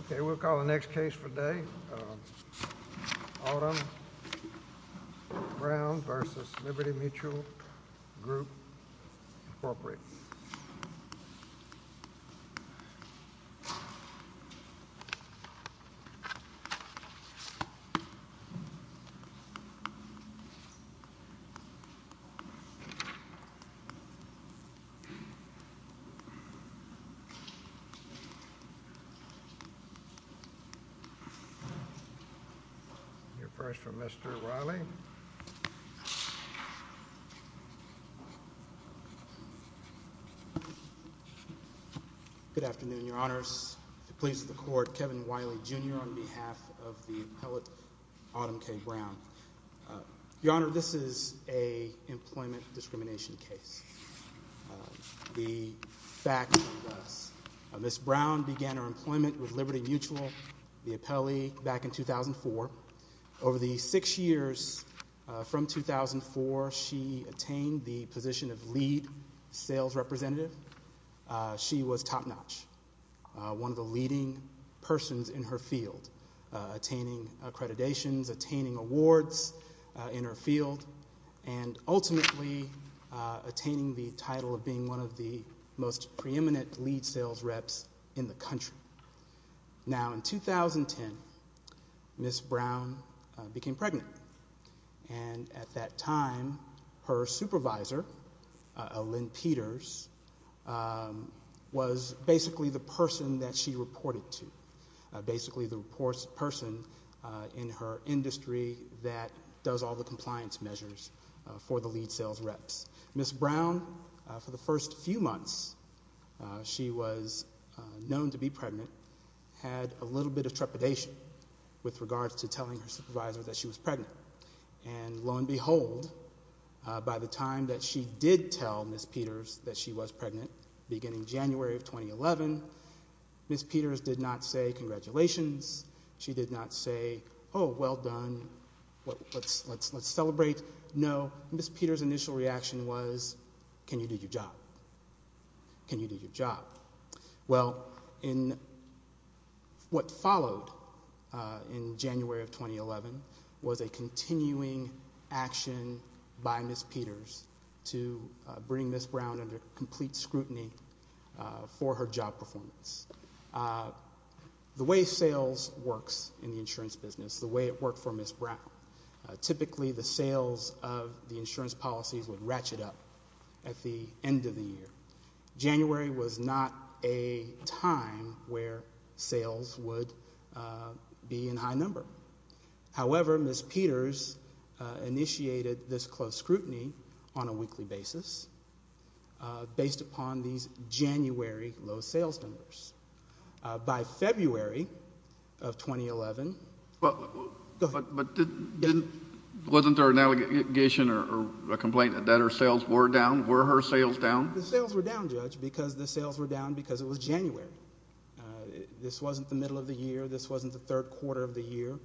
Okay, we'll call the next case for the day. Autumn Brown v. Liberty Mutual Group, Inc. You're first for Mr. Wiley. Good afternoon, Your Honors. The police of the court, Kevin Wiley, Jr. on behalf of the appellate Autumn K. Brown. Your Honor, this is an employment discrimination case. The facts are as follows. Ms. Brown began her employment with Liberty Mutual, the appellee, back in 2004. Over the six years from 2004, she attained the position of lead sales representative. She was top-notch, one of the leading persons in her field, attaining accreditations, attaining awards in her field, and ultimately attaining the title of being one of the most preeminent lead sales reps in the country. Now, in 2010, Ms. Brown became pregnant. And at that time, her supervisor, Lynn Peters, was basically the person that she reported to, basically the person in her industry that does all the compliance measures for the lead sales reps. Ms. Brown, for the first few months she was known to be pregnant, had a little bit of trepidation with regards to telling her supervisor that she was pregnant. And lo and behold, by the time that she did tell Ms. Peters that she was pregnant, beginning January of 2011, Ms. Peters did not say congratulations. She did not say, oh, well done, let's celebrate. No, Ms. Peters' initial reaction was, can you do your job? Can you do your job? Well, what followed in January of 2011 was a continuing action by Ms. Peters to bring Ms. Brown under complete scrutiny for her job performance. The way sales works in the insurance business, the way it worked for Ms. Brown, typically the sales of the insurance policies would ratchet up at the end of the year. January was not a time where sales would be in high number. However, Ms. Peters initiated this close scrutiny on a weekly basis, based upon these January low sales numbers. By February of 2011, go ahead. But wasn't there an allegation or a complaint that her sales were down? Were her sales down? The sales were down, Judge, because the sales were down because it was January. This wasn't the middle of the year. This wasn't the third quarter of the year.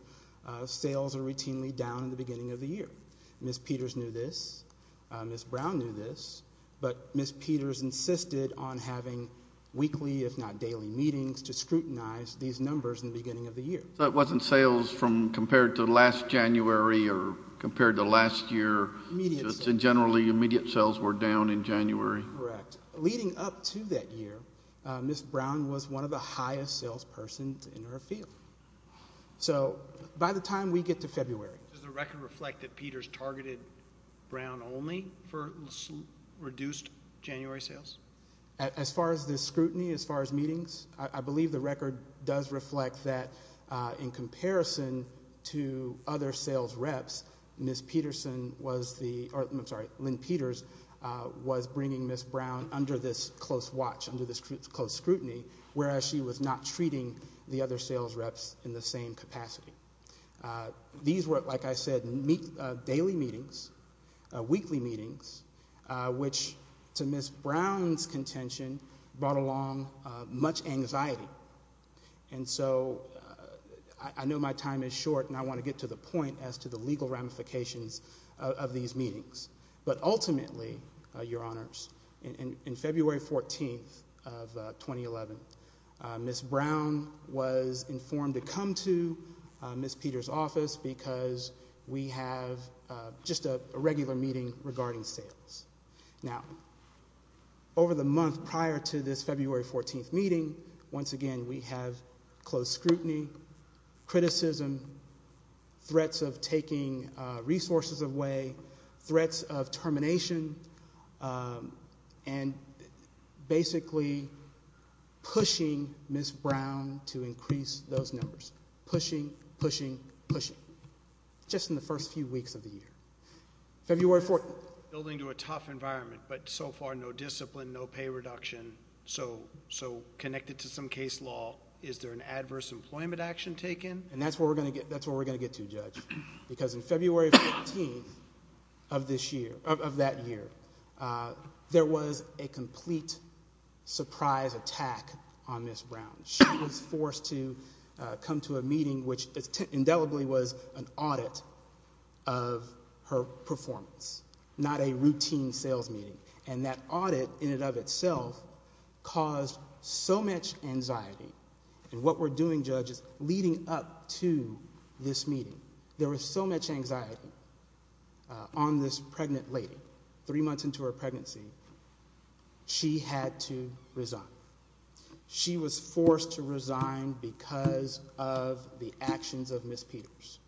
Sales are routinely down at the beginning of the year. Ms. Peters knew this. Ms. Brown knew this. But Ms. Peters insisted on having weekly, if not daily meetings, to scrutinize these numbers in the beginning of the year. So it wasn't sales from compared to last January or compared to last year? Immediate sales. So generally, immediate sales were down in January? Correct. But leading up to that year, Ms. Brown was one of the highest sales persons in her field. So by the time we get to February. Does the record reflect that Peters targeted Brown only for reduced January sales? As far as the scrutiny, as far as meetings, I believe the record does reflect that in comparison to other sales reps, Ms. Peterson was the ‑‑ I'm sorry, Lynn Peters was bringing Ms. Brown under this close watch, under this close scrutiny, whereas she was not treating the other sales reps in the same capacity. These were, like I said, daily meetings, weekly meetings, which to Ms. Brown's contention brought along much anxiety. And so I know my time is short and I want to get to the point as to the legal ramifications of these meetings. But ultimately, Your Honors, in February 14th of 2011, Ms. Brown was informed to come to Ms. Peters' office because we have just a regular meeting regarding sales. Now, over the month prior to this February 14th meeting, once again, we have close scrutiny, criticism, threats of taking resources away, threats of termination, and basically pushing Ms. Brown to increase those numbers. Pushing, pushing, pushing. Just in the first few weeks of the year. February 14th. Building to a tough environment, but so far no discipline, no pay reduction. So connected to some case law, is there an adverse employment action taken? And that's where we're going to get to, Judge, because in February 14th of this year, of that year, there was a complete surprise attack on Ms. Brown. She was forced to come to a meeting which indelibly was an audit of her performance, not a routine sales meeting. And that audit, in and of itself, caused so much anxiety. And what we're doing, Judge, is leading up to this meeting, there was so much anxiety on this pregnant lady. Three months into her pregnancy, she had to resign. She was forced to resign because of the actions of Ms. Peters.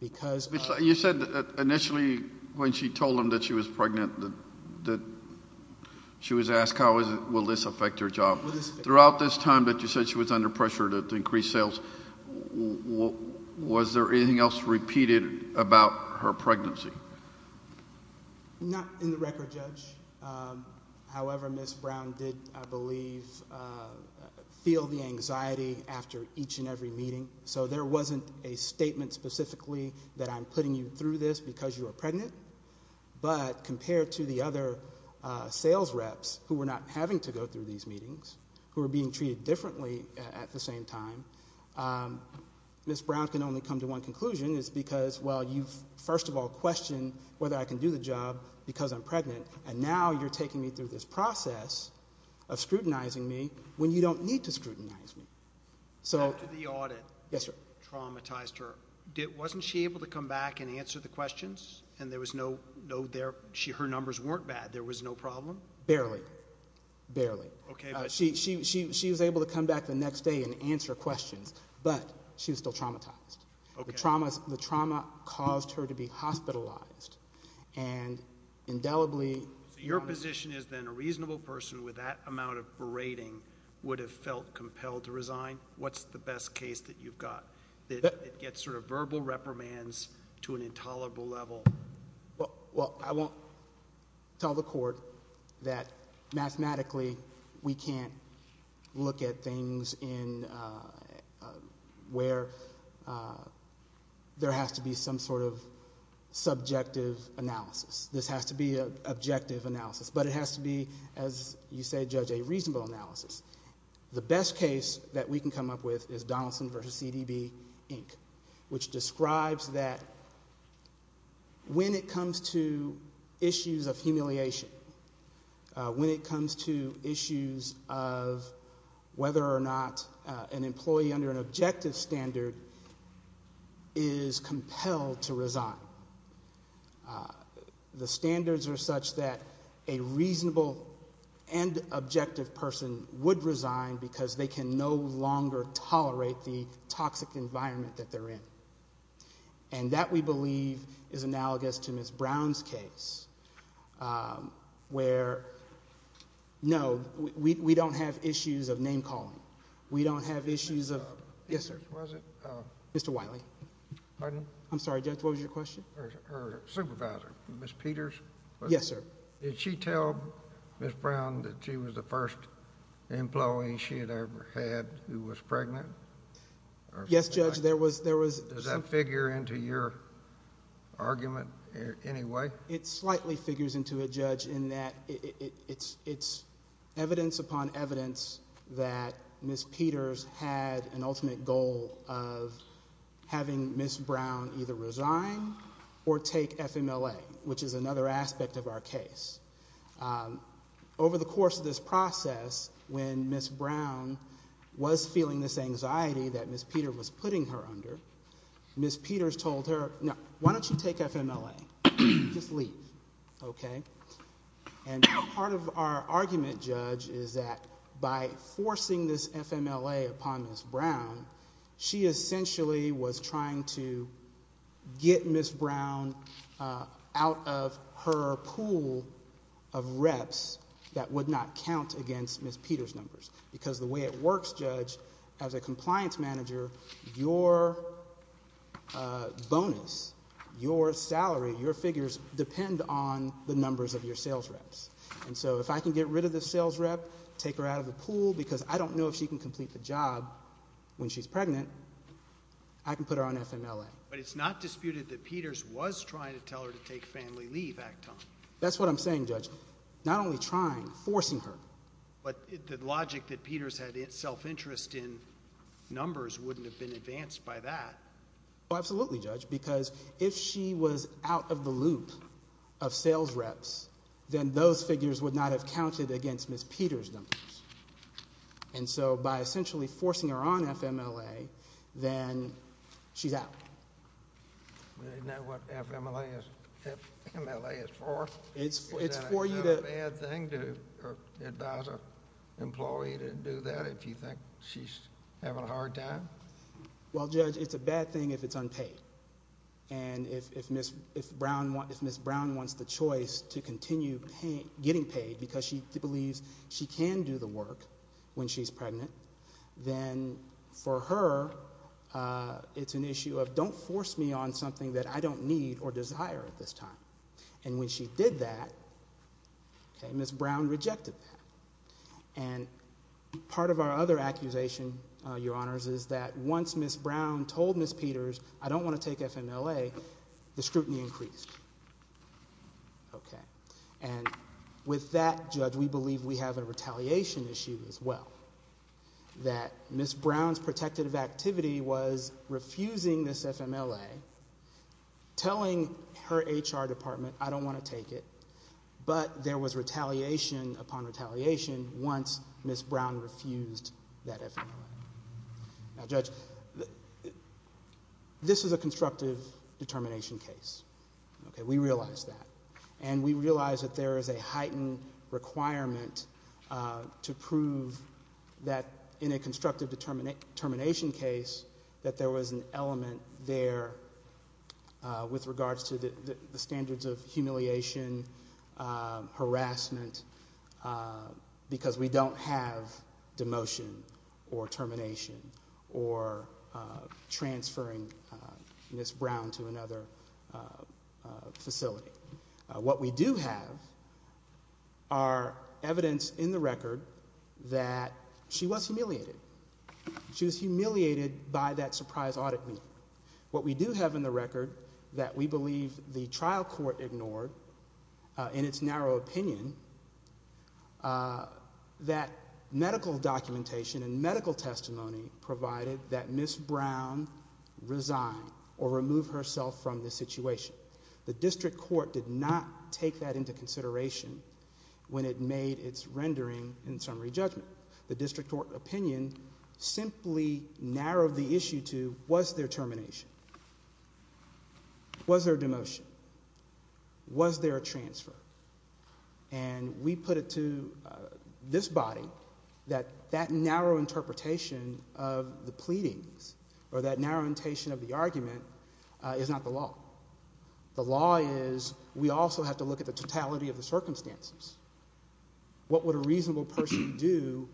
Because of- You said initially, when she told them that she was pregnant, that she was asked how will this affect her job. Throughout this time that you said she was under pressure to increase sales, was there anything else repeated about her pregnancy? Not in the record, Judge. However, Ms. Brown did, I believe, feel the anxiety after each and every meeting. So there wasn't a statement specifically that I'm putting you through this because you are pregnant. But compared to the other sales reps who were not having to go through these meetings, who were being treated differently at the same time, Ms. Brown can only come to one conclusion. It's because, well, you first of all questioned whether I can do the job because I'm pregnant. And now you're taking me through this process of scrutinizing me when you don't need to scrutinize me. After the audit traumatized her, wasn't she able to come back and answer the questions? And there was no- her numbers weren't bad. There was no problem? Barely. Barely. She was able to come back the next day and answer questions, but she was still traumatized. The trauma caused her to be hospitalized and indelibly- So your position is then a reasonable person with that amount of berating would have felt compelled to resign? What's the best case that you've got that gets sort of verbal reprimands to an intolerable level? Well, I won't tell the court that mathematically we can't look at things in- where there has to be some sort of subjective analysis. This has to be an objective analysis, but it has to be, as you say, Judge, a reasonable analysis. The best case that we can come up with is Donaldson v. CDB, Inc., which describes that when it comes to issues of humiliation, when it comes to issues of whether or not an employee under an objective standard is compelled to resign, the standards are such that a reasonable and objective person would resign because they can no longer tolerate the toxic environment that they're in. And that, we believe, is analogous to Ms. Brown's case where, no, we don't have issues of name-calling. We don't have issues of- Yes, sir. Mr. Wiley. Pardon? I'm sorry, Judge, what was your question? Her supervisor, Ms. Peters? Yes, sir. Did she tell Ms. Brown that she was the first employee she had ever had who was pregnant? Yes, Judge, there was- Does that figure into your argument in any way? It slightly figures into it, Judge, in that it's evidence upon evidence that Ms. Peters had an ultimate goal of having Ms. Brown either resign or take FMLA, which is another aspect of our case. Over the course of this process, when Ms. Brown was feeling this anxiety that Ms. Peter was putting her under, Ms. Peters told her, no, why don't you take FMLA? Just leave, okay? Part of our argument, Judge, is that by forcing this FMLA upon Ms. Brown, she essentially was trying to get Ms. Brown out of her pool of reps that would not count against Ms. Peter's numbers because the way it works, Judge, as a compliance manager, your bonus, your salary, your figures, depend on the numbers of your sales reps. And so if I can get rid of this sales rep, take her out of the pool, because I don't know if she can complete the job when she's pregnant, I can put her on FMLA. But it's not disputed that Peters was trying to tell her to take family leave, Acton. That's what I'm saying, Judge, not only trying, forcing her. But the logic that Peters had self-interest in numbers wouldn't have been advanced by that. Well, absolutely, Judge, because if she was out of the loop of sales reps, then those figures would not have counted against Ms. Peter's numbers. And so by essentially forcing her on FMLA, then she's out. You know what FMLA is for? Is that a bad thing to advise an employee to do that if you think she's having a hard time? Well, Judge, it's a bad thing if it's unpaid. And if Ms. Brown wants the choice to continue getting paid because she believes she can do the work when she's pregnant, then for her it's an issue of don't force me on something that I don't need or desire at this time. And when she did that, Ms. Brown rejected that. And part of our other accusation, Your Honors, is that once Ms. Brown told Ms. Peters, I don't want to take FMLA, the scrutiny increased. And with that, Judge, we believe we have a retaliation issue as well, that Ms. Brown's protective activity was refusing this FMLA, telling her HR department I don't want to take it, but there was retaliation upon retaliation once Ms. Brown refused that FMLA. Now, Judge, this is a constructive determination case. We realize that. And we realize that there is a heightened requirement to prove that in a constructive determination case that there was an element there with regards to the standards of humiliation, harassment, because we don't have demotion or termination or transferring Ms. Brown to another facility. What we do have are evidence in the record that she was humiliated. She was humiliated by that surprise audit meeting. What we do have in the record that we believe the trial court ignored in its narrow opinion, that medical documentation and medical testimony provided that Ms. Brown resigned or removed herself from the situation. The district court did not take that into consideration when it made its rendering and summary judgment. The district court opinion simply narrowed the issue to, was there termination? Was there demotion? Was there a transfer? And we put it to this body that that narrow interpretation of the pleadings or that narrow interpretation of the argument is not the law. The law is we also have to look at the totality of the circumstances. What would a reasonable person do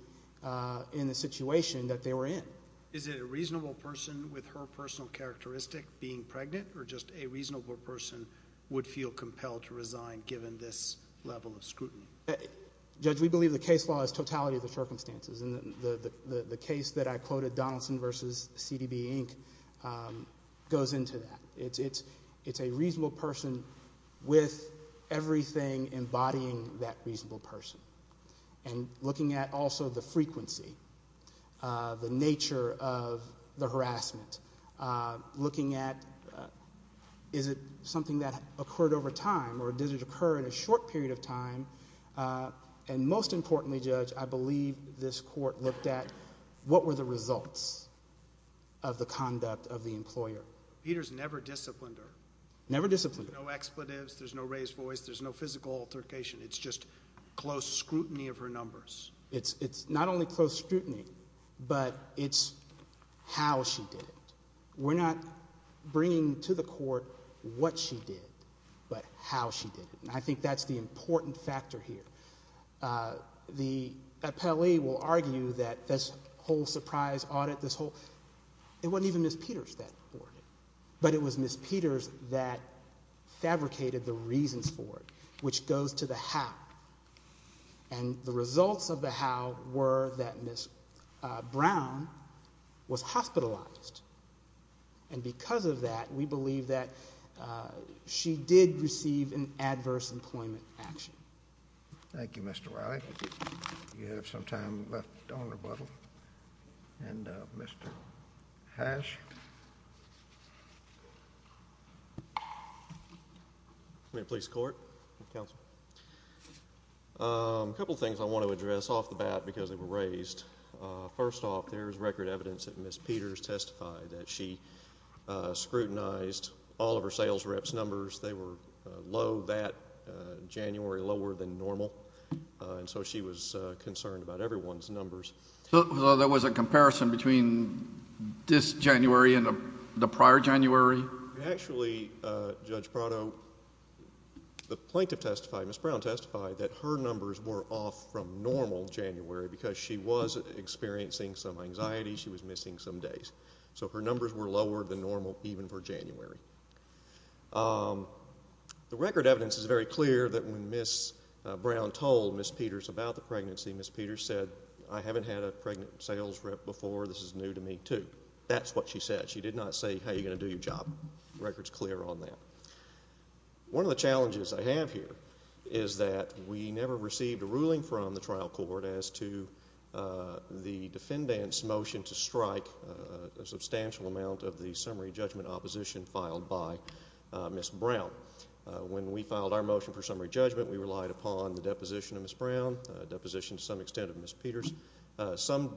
in the situation that they were in? Is it a reasonable person with her personal characteristic being pregnant or just a reasonable person would feel compelled to resign given this level of scrutiny? Judge, we believe the case law is totality of the circumstances, and the case that I quoted, Donaldson v. CDB, Inc., goes into that. It's a reasonable person with everything embodying that reasonable person and looking at also the frequency, the nature of the harassment, looking at is it something that occurred over time or did it occur in a short period of time, and most importantly, Judge, I believe this court looked at what were the results of the conduct of the employer. Peter's never disciplined her. Never disciplined her. There's no expletives. There's no raised voice. There's no physical altercation. It's just close scrutiny of her numbers. It's not only close scrutiny, but it's how she did it. We're not bringing to the court what she did but how she did it, and I think that's the important factor here. The appellee will argue that this whole surprise audit, this whole— it wasn't even Ms. Peters that ordered it, but it was Ms. Peters that fabricated the reasons for it, which goes to the how, and the results of the how were that Ms. Brown was hospitalized, and because of that, we believe that she did receive an adverse employment action. Thank you, Mr. Riley. Thank you. Do you have some time left on rebuttal? And Mr. Hash? Committee of the Police Court. Counsel. A couple things I want to address off the bat because they were raised. First off, there is record evidence that Ms. Peters testified that she scrutinized all of her sales reps' numbers. They were low that January, lower than normal, and so she was concerned about everyone's numbers. So there was a comparison between this January and the prior January? Actually, Judge Prado, the plaintiff testified, Ms. Brown testified, that her numbers were off from normal January because she was experiencing some anxiety. She was missing some days. So her numbers were lower than normal even for January. The record evidence is very clear that when Ms. Brown told Ms. Peters about the pregnancy, Ms. Peters said, I haven't had a pregnant sales rep before. This is new to me, too. That's what she said. She did not say, hey, you're going to do your job. The record is clear on that. One of the challenges I have here is that we never received a ruling from the trial court as to the defendant's motion to strike a substantial amount of the summary judgment opposition filed by Ms. Brown. When we filed our motion for summary judgment, we relied upon the deposition of Ms. Brown, deposition to some extent of Ms. Peters, some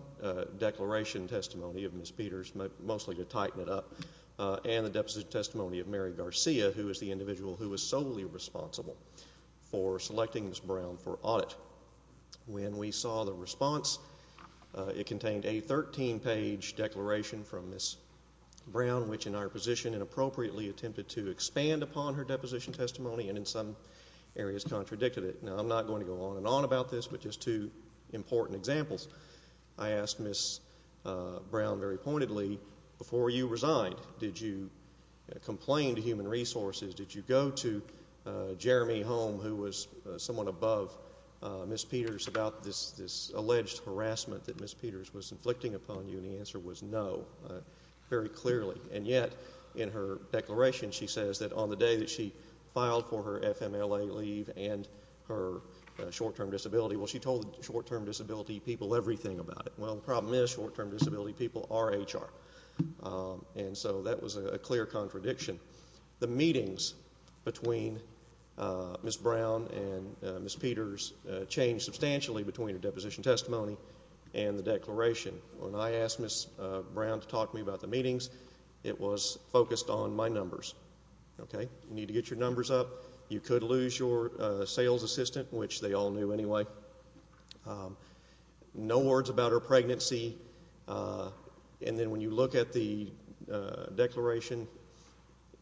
declaration testimony of Ms. Peters, mostly to tighten it up, and the deposition testimony of Mary Garcia, who is the individual who was solely responsible for selecting Ms. Brown for audit. When we saw the response, it contained a 13-page declaration from Ms. Brown, which in our position inappropriately attempted to expand upon her deposition testimony and in some areas contradicted it. Now, I'm not going to go on and on about this, but just two important examples. I asked Ms. Brown very pointedly, before you resigned, did you complain to Human Resources? Did you go to Jeremy Holm, who was someone above Ms. Peters, about this alleged harassment that Ms. Peters was inflicting upon you? And the answer was no, very clearly. And yet, in her declaration, she says that on the day that she filed for her FMLA leave and her short-term disability, well, she told the short-term disability people everything about it. Well, the problem is short-term disability people are HR, and so that was a clear contradiction. The meetings between Ms. Brown and Ms. Peters changed substantially between her deposition testimony and the declaration. When I asked Ms. Brown to talk to me about the meetings, it was focused on my numbers. You need to get your numbers up. You could lose your sales assistant, which they all knew anyway. No words about her pregnancy. And then when you look at the declaration,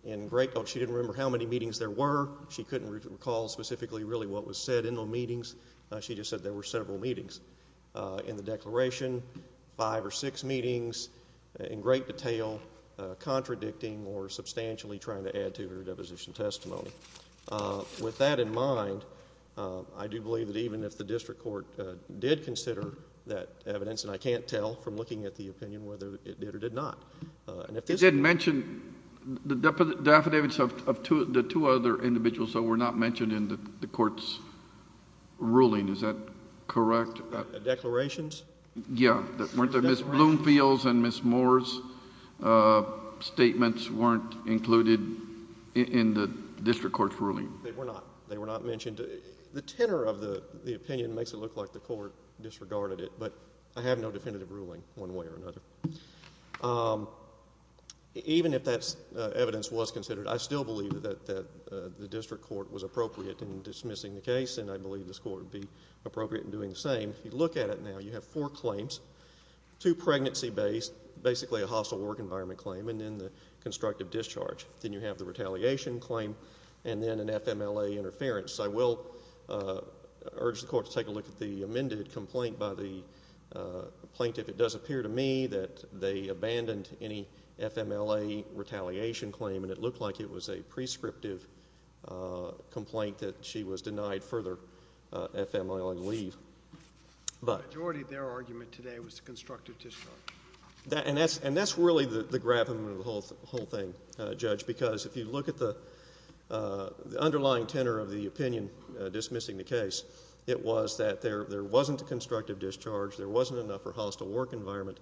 she didn't remember how many meetings there were. She couldn't recall specifically really what was said in the meetings. She just said there were several meetings. In the declaration, five or six meetings, in great detail, contradicting or substantially trying to add to her deposition testimony. With that in mind, I do believe that even if the district court did consider that evidence, and I can't tell from looking at the opinion whether it did or did not. It did mention the affidavits of the two other individuals that were not mentioned in the court's ruling. Is that correct? Declarations? Yeah. Weren't there Ms. Bloomfield's and Ms. Moore's statements weren't included in the district court's ruling? They were not. They were not mentioned. The tenor of the opinion makes it look like the court disregarded it, but I have no definitive ruling one way or another. Even if that evidence was considered, I still believe that the district court was appropriate in dismissing the case, and I believe this court would be appropriate in doing the same. If you look at it now, you have four claims, two pregnancy-based, basically a hostile work environment claim, and then the constructive discharge. Then you have the retaliation claim, and then an FMLA interference. I will urge the court to take a look at the amended complaint by the plaintiff. It does appear to me that they abandoned any FMLA retaliation claim, and it looked like it was a prescriptive complaint that she was denied further FMLA leave. The majority of their argument today was the constructive discharge. And that's really the gravamen of the whole thing, Judge, because if you look at the underlying tenor of the opinion dismissing the case, it was that there wasn't a constructive discharge, there wasn't enough of a hostile work environment,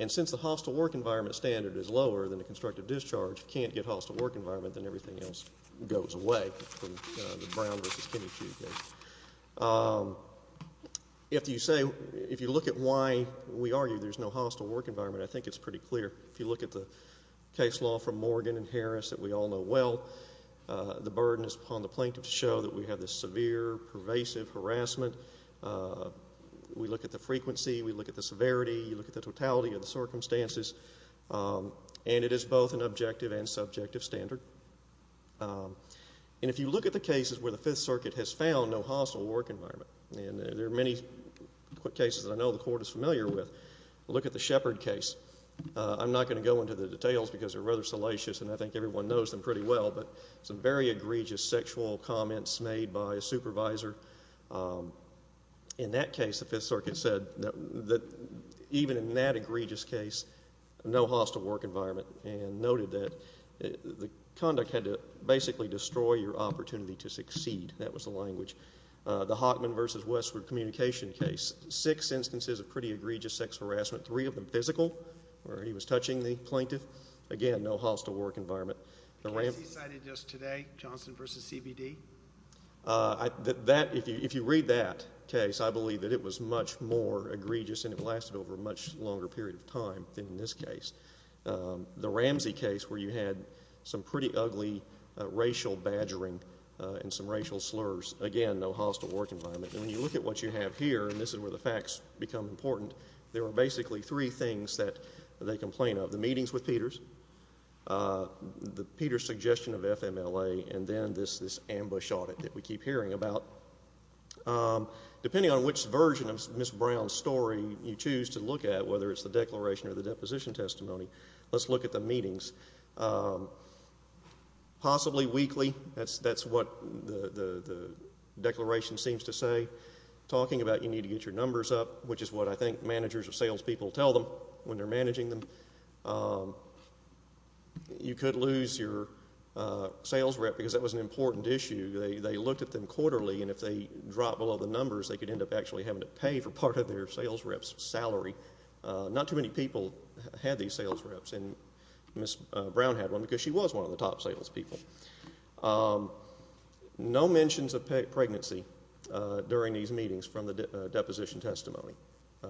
and since the hostile work environment standard is lower than the constructive discharge, you can't get hostile work environment, then everything else goes away from the Brown v. Kennedy case. If you say, if you look at why we argue there's no hostile work environment, I think it's pretty clear. If you look at the case law from Morgan and Harris that we all know well, the burden is upon the plaintiff to show that we have this severe, pervasive harassment. We look at the frequency, we look at the severity, we look at the totality of the circumstances, and it is both an objective and subjective standard. And if you look at the cases where the Fifth Circuit has found no hostile work environment, and there are many cases that I know the Court is familiar with, look at the Shepard case. I'm not going to go into the details because they're rather salacious, and I think everyone knows them pretty well, but some very egregious sexual comments made by a supervisor. In that case, the Fifth Circuit said that even in that egregious case, no hostile work environment, and noted that the conduct had to basically destroy your opportunity to succeed. That was the language. The Hockman v. Westwood communication case, six instances of pretty egregious sex harassment, three of them physical, where he was touching the plaintiff. Again, no hostile work environment. The case he cited just today, Johnson v. CBD? If you read that case, I believe that it was much more egregious, and it lasted over a much longer period of time than in this case. The Ramsey case, where you had some pretty ugly racial badgering and some racial slurs. Again, no hostile work environment. And when you look at what you have here, and this is where the facts become important, there are basically three things that they complain of. The meetings with Peters, the Peters suggestion of FMLA, and then this ambush audit that we keep hearing about. Depending on which version of Ms. Brown's story you choose to look at, whether it's the declaration or the deposition testimony, let's look at the meetings. Possibly weekly, that's what the declaration seems to say. Talking about you need to get your numbers up, which is what I think managers of salespeople tell them when they're managing them. You could lose your sales rep because that was an important issue. They looked at them quarterly, and if they dropped below the numbers, they could end up actually having to pay for part of their sales rep's salary. Not too many people had these sales reps, and Ms. Brown had one because she was one of the top salespeople. No mentions of pregnancy during these meetings from the deposition testimony.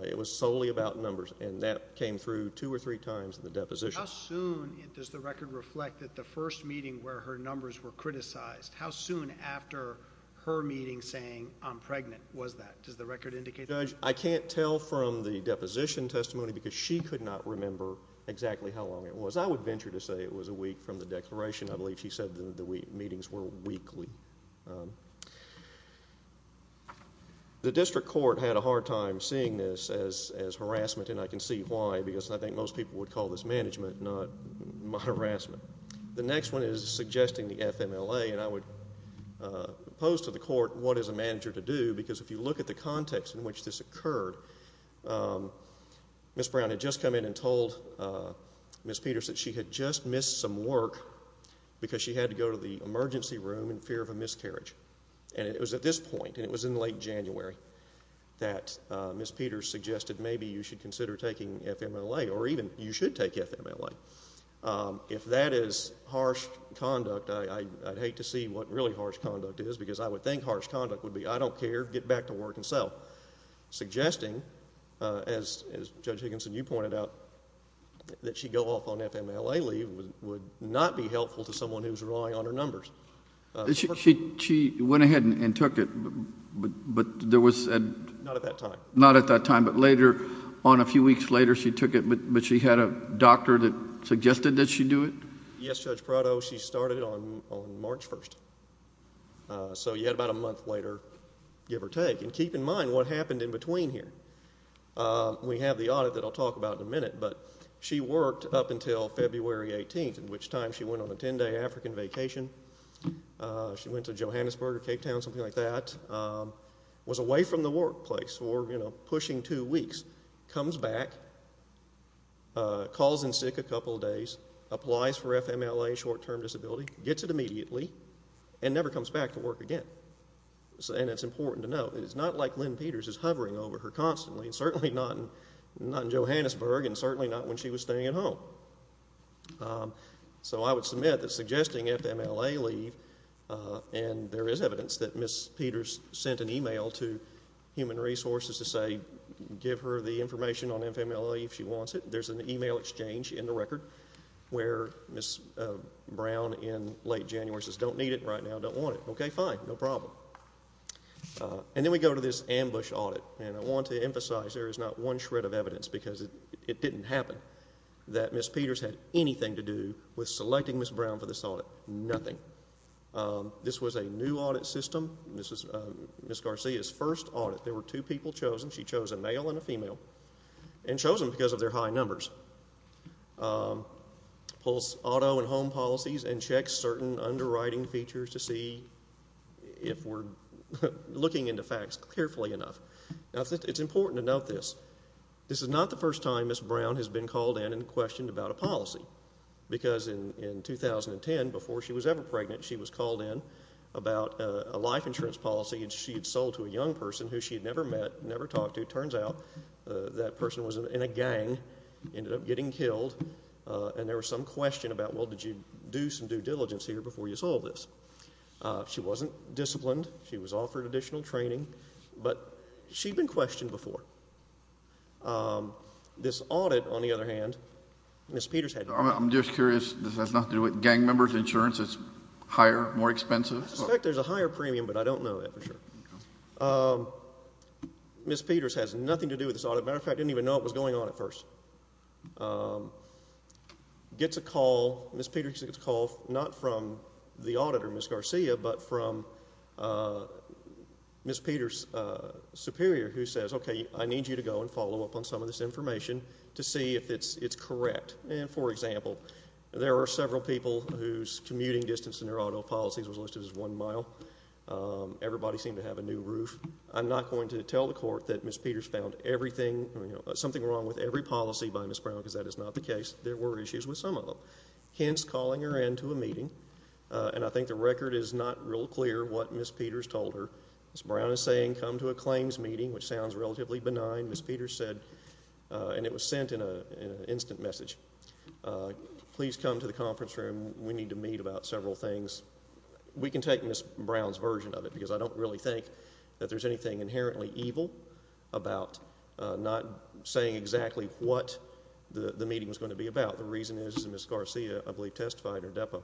It was solely about numbers, and that came through two or three times in the deposition. How soon does the record reflect that the first meeting where her numbers were criticized, how soon after her meeting saying, I'm pregnant, was that? Does the record indicate that? Judge, I can't tell from the deposition testimony because she could not remember exactly how long it was. I would venture to say it was a week from the declaration. I believe she said the meetings were weekly. The district court had a hard time seeing this as harassment, and I can see why, because I think most people would call this management, not harassment. The next one is suggesting the FMLA, and I would pose to the court what is a manager to do, because if you look at the context in which this occurred, Ms. Brown had just come in and told Ms. Peters that she had just missed some work because she had to go to the emergency room in fear of a miscarriage, and it was at this point, and it was in late January, that Ms. Peters suggested maybe you should consider taking FMLA, or even you should take FMLA. If that is harsh conduct, I'd hate to see what really harsh conduct is, because I would think harsh conduct would be, I don't care, get back to work and sell, suggesting, as Judge Higginson, you pointed out, that she go off on FMLA leave would not be helpful to someone who is relying on her numbers. She went ahead and took it, but there was a... Not at that time. Not at that time, but later on, a few weeks later, she took it, but she had a doctor that suggested that she do it? Yes, Judge Prado, she started it on March 1, so you had about a month later, give or take. And keep in mind what happened in between here. We have the audit that I'll talk about in a minute, but she worked up until February 18, at which time she went on a 10-day African vacation. She went to Johannesburg or Cape Town, something like that, was away from the workplace for, you know, pushing two weeks, comes back, calls in sick a couple of days, applies for FMLA, short-term disability, gets it immediately, and never comes back to work again. And it's important to note, it's not like Lynn Peters is hovering over her constantly, certainly not in Johannesburg and certainly not when she was staying at home. So I would submit that suggesting FMLA leave, and there is evidence that Ms. Peters sent an email to Human Resources to say, give her the information on FMLA if she wants it. There's an email exchange in the record where Ms. Brown in late January says, I don't need it right now, don't want it. Okay, fine, no problem. And then we go to this ambush audit, and I want to emphasize there is not one shred of evidence because it didn't happen, that Ms. Peters had anything to do with selecting Ms. Brown for this audit, nothing. This was a new audit system. This was Ms. Garcia's first audit. There were two people chosen. She chose a male and a female, and chose them because of their high numbers. Pulls auto and home policies and checks certain underwriting features to see if we're looking into facts carefully enough. Now, it's important to note this. This is not the first time Ms. Brown has been called in and questioned about a policy because in 2010, before she was ever pregnant, she was called in about a life insurance policy and she had sold to a young person who she had never met, never talked to. It turns out that person was in a gang, ended up getting killed, and there was some question about, well, did you do some due diligence here before you sold this? She wasn't disciplined. She was offered additional training, but she'd been questioned before. This audit, on the other hand, Ms. Peters had nothing to do with that. I'm just curious, does that have nothing to do with gang members' insurance? It's higher, more expensive? I suspect there's a higher premium, but I don't know that for sure. Ms. Peters has nothing to do with this audit. As a matter of fact, I didn't even know it was going on at first. Gets a call, Ms. Peters gets a call, not from the auditor, Ms. Garcia, but from Ms. Peters' superior who says, okay, I need you to go and follow up on some of this information to see if it's correct. For example, there are several people whose commuting distance in their auto policies was listed as one mile. Everybody seemed to have a new roof. I'm not going to tell the court that Ms. Peters found everything, something wrong with every policy by Ms. Brown because that is not the case. There were issues with some of them. Hence, calling her in to a meeting, and I think the record is not real clear what Ms. Peters told her. Ms. Brown is saying, come to a claims meeting, which sounds relatively benign. Ms. Peters said, and it was sent in an instant message, please come to the conference room. We need to meet about several things. We can take Ms. Brown's version of it because I don't really think that there's anything inherently evil about not saying exactly what the meeting was going to be about. The reason is, and Ms. Garcia, I believe, testified in her depo,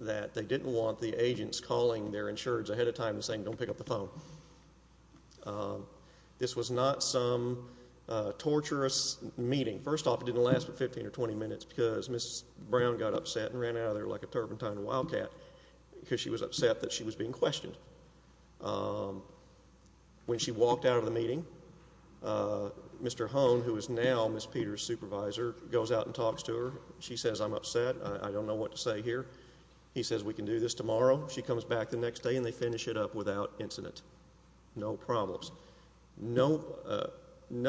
that they didn't want the agents calling their insureds ahead of time and saying, don't pick up the phone. This was not some torturous meeting. First off, it didn't last for 15 or 20 minutes because Ms. Brown got upset and ran out of there like a turpentine wildcat because she was upset that she was being questioned. When she walked out of the meeting, Mr. Hone, who is now Ms. Peters' supervisor, goes out and talks to her. She says, I'm upset. I don't know what to say here. He says, we can do this tomorrow. She comes back the next day, and they finish it up without incident. No problems. No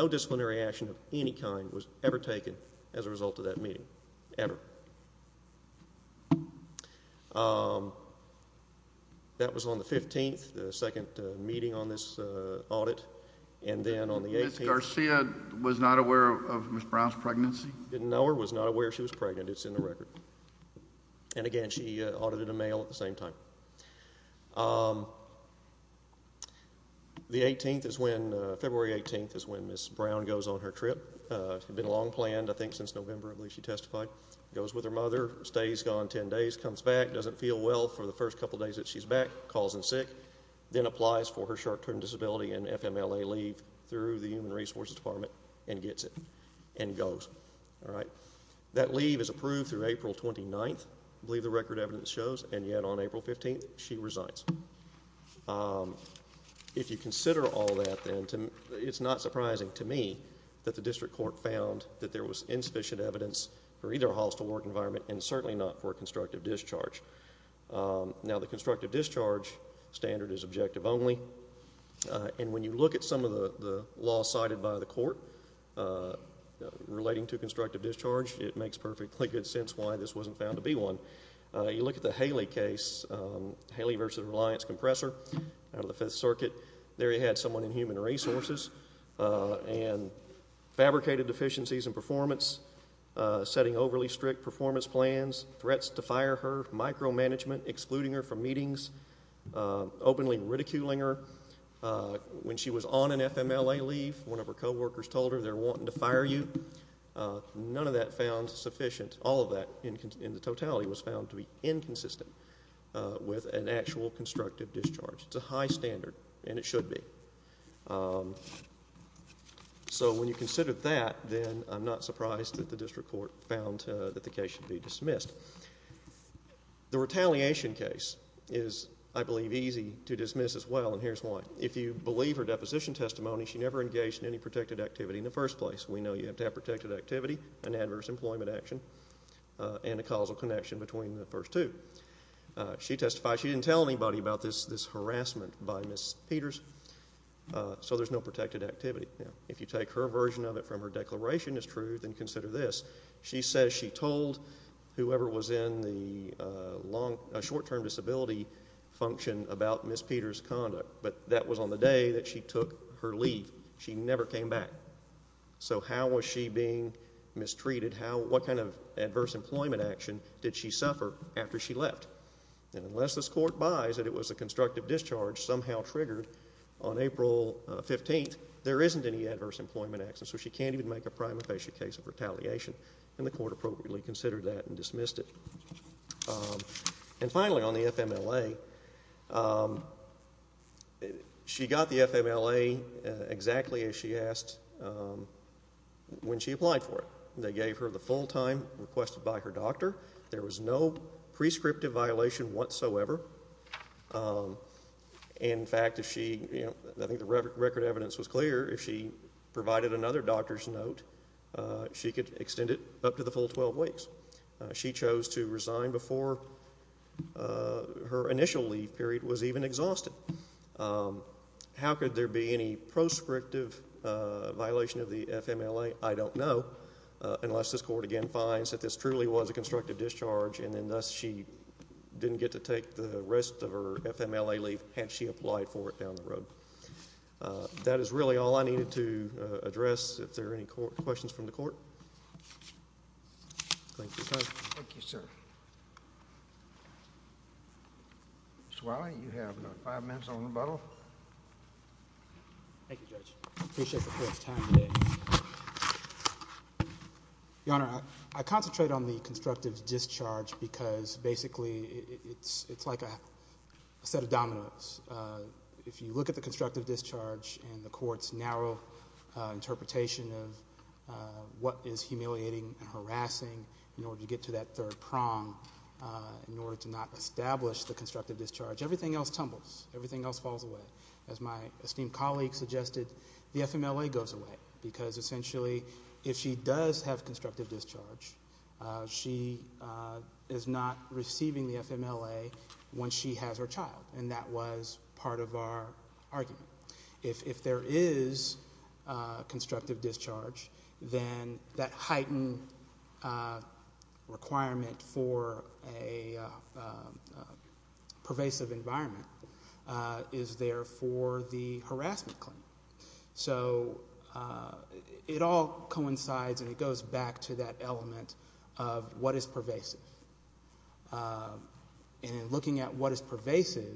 disciplinary action of any kind was ever taken as a result of that meeting, ever. That was on the 15th, the second meeting on this audit, and then on the 18th. Ms. Garcia was not aware of Ms. Brown's pregnancy? Didn't know her, was not aware she was pregnant. It's in the record. And again, she audited a mail at the same time. The 18th is when, February 18th, is when Ms. Brown goes on her trip. It had been long planned, I think, since November, I believe she testified. Goes with her mother, stays gone 10 days, comes back, doesn't feel well for the first couple days that she's back, calls in sick, then applies for her short-term disability and FMLA leave through the Human Resources Department and gets it and goes. That leave is approved through April 29th, I believe the record evidence shows, and yet on April 15th, she resides. If you consider all that, then it's not surprising to me that the district court found that there was insufficient evidence for either a hostile work environment and certainly not for a constructive discharge. Now, the constructive discharge standard is objective only, and when you look at some of the laws cited by the court relating to constructive discharge, it makes perfectly good sense why this wasn't found to be one. You look at the Haley case, Haley versus Reliance Compressor out of the Fifth Circuit. There you had someone in Human Resources and fabricated deficiencies in performance, setting overly strict performance plans, threats to fire her, micromanagement, excluding her from meetings, openly ridiculing her. When she was on an FMLA leave, one of her co-workers told her they're wanting to fire you. None of that found sufficient. All of that in the totality was found to be inconsistent with an actual constructive discharge. It's a high standard, and it should be. So when you consider that, then I'm not surprised that the district court found that the case should be dismissed. The retaliation case is, I believe, easy to dismiss as well, and here's why. If you believe her deposition testimony, she never engaged in any protected activity in the first place. We know you have to have protected activity, an adverse employment action, and a causal connection between the first two. She testified she didn't tell anybody about this harassment by Ms. Peters, so there's no protected activity. If you take her version of it from her declaration as true, then consider this. She says she told whoever was in the short-term disability function about Ms. Peters' conduct, but that was on the day that she took her leave. She never came back. So how was she being mistreated? What kind of adverse employment action did she suffer after she left? And unless this court buys that it was a constructive discharge somehow triggered on April 15th, there isn't any adverse employment action, so she can't even make a prima facie case of retaliation, and the court appropriately considered that and dismissed it. And finally, on the FMLA, she got the FMLA exactly as she asked when she applied for it. They gave her the full time requested by her doctor. There was no prescriptive violation whatsoever. In fact, I think the record evidence was clear. If she provided another doctor's note, she could extend it up to the full 12 weeks. She chose to resign before her initial leave period was even exhausted. How could there be any prescriptive violation of the FMLA? I don't know, unless this court again finds that this truly was a constructive discharge and then thus she didn't get to take the rest of her FMLA leave had she applied for it down the road. That is really all I needed to address. If there are any questions from the court. Thank you, sir. Thank you, sir. Mr. Wiley, you have another five minutes on rebuttal. Thank you, Judge. I appreciate the court's time today. Your Honor, I concentrate on the constructive discharge because basically it's like a set of dominoes. If you look at the constructive discharge and the court's narrow interpretation of what is humiliating and harassing in order to get to that third prong, in order to not establish the constructive discharge, everything else tumbles. Everything else falls away. As my esteemed colleague suggested, the FMLA goes away because essentially if she does have constructive discharge, she is not receiving the FMLA when she has her child, and that was part of our argument. If there is constructive discharge, then that heightened requirement for a pervasive environment is there for the harassment claim. So it all coincides and it goes back to that element of what is pervasive. And in looking at what is pervasive,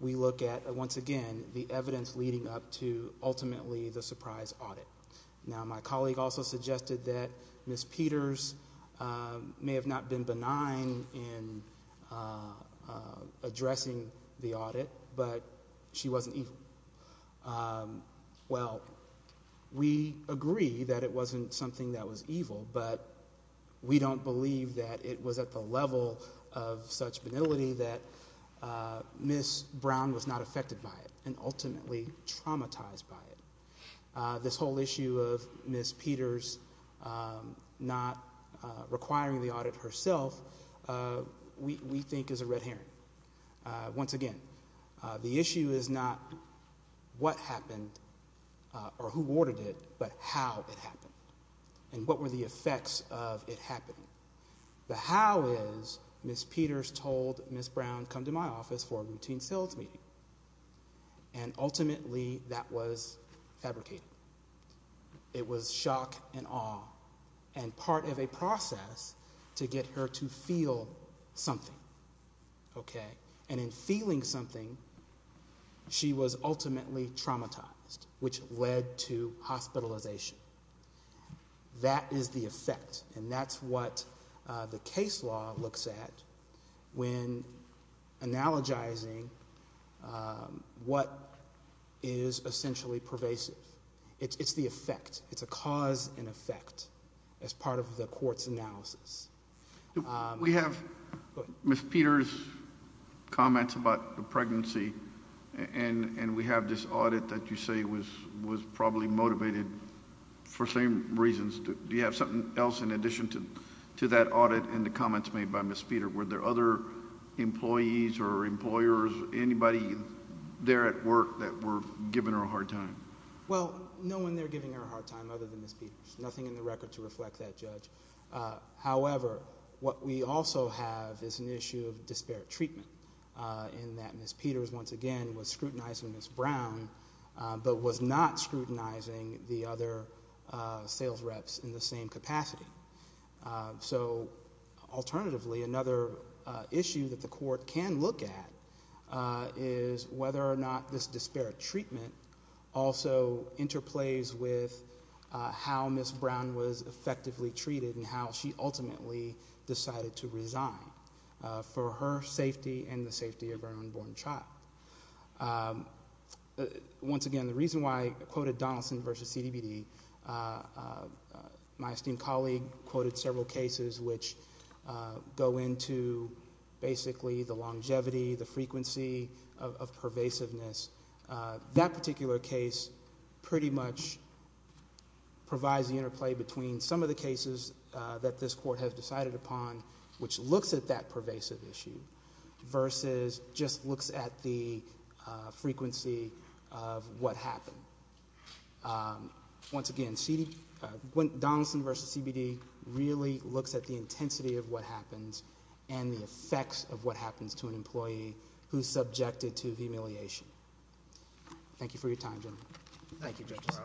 we look at, once again, the evidence leading up to ultimately the surprise audit. Now, my colleague also suggested that Ms. Peters may have not been benign in addressing the audit, but she wasn't evil. Well, we agree that it wasn't something that was evil, but we don't believe that it was at the level of such venality that Ms. Brown was not affected by it and ultimately traumatized by it. This whole issue of Ms. Peters not requiring the audit herself, we think is a red herring. Once again, the issue is not what happened or who ordered it, but how it happened and what were the effects of it happening. The how is Ms. Peters told Ms. Brown, come to my office for a routine sales meeting, and ultimately that was fabricated. It was shock and awe and part of a process to get her to feel something. And in feeling something, she was ultimately traumatized, which led to hospitalization. That is the effect, and that's what the case law looks at when analogizing what is essentially pervasive. It's the effect. It's a cause and effect as part of the court's analysis. We have Ms. Peters' comments about the pregnancy, and we have this audit that you say was probably motivated for same reasons. Do you have something else in addition to that audit and the comments made by Ms. Peters? Were there other employees or employers, anybody there at work that were giving her a hard time? Well, no one there giving her a hard time other than Ms. Peters, nothing in the record to reflect that, Judge. However, what we also have is an issue of disparate treatment in that Ms. Peters, once again, was scrutinizing Ms. Brown, but was not scrutinizing the other sales reps in the same capacity. So alternatively, another issue that the court can look at is whether or not this disparate treatment also interplays with how Ms. Brown was effectively treated and how she ultimately decided to resign for her safety and the safety of her unborn child. Once again, the reason why I quoted Donaldson v. CDBD, my esteemed colleague quoted several cases which go into basically the longevity, the frequency of pervasiveness. That particular case pretty much provides the interplay between some of the cases that this court has decided upon, which looks at that pervasive issue, versus just looks at the frequency of what happened. Once again, Donaldson v. CBD really looks at the intensity of what happens and the effects of what happens to an employee who's subjected to humiliation. Thank you for your time, gentlemen. Thank you, Justice.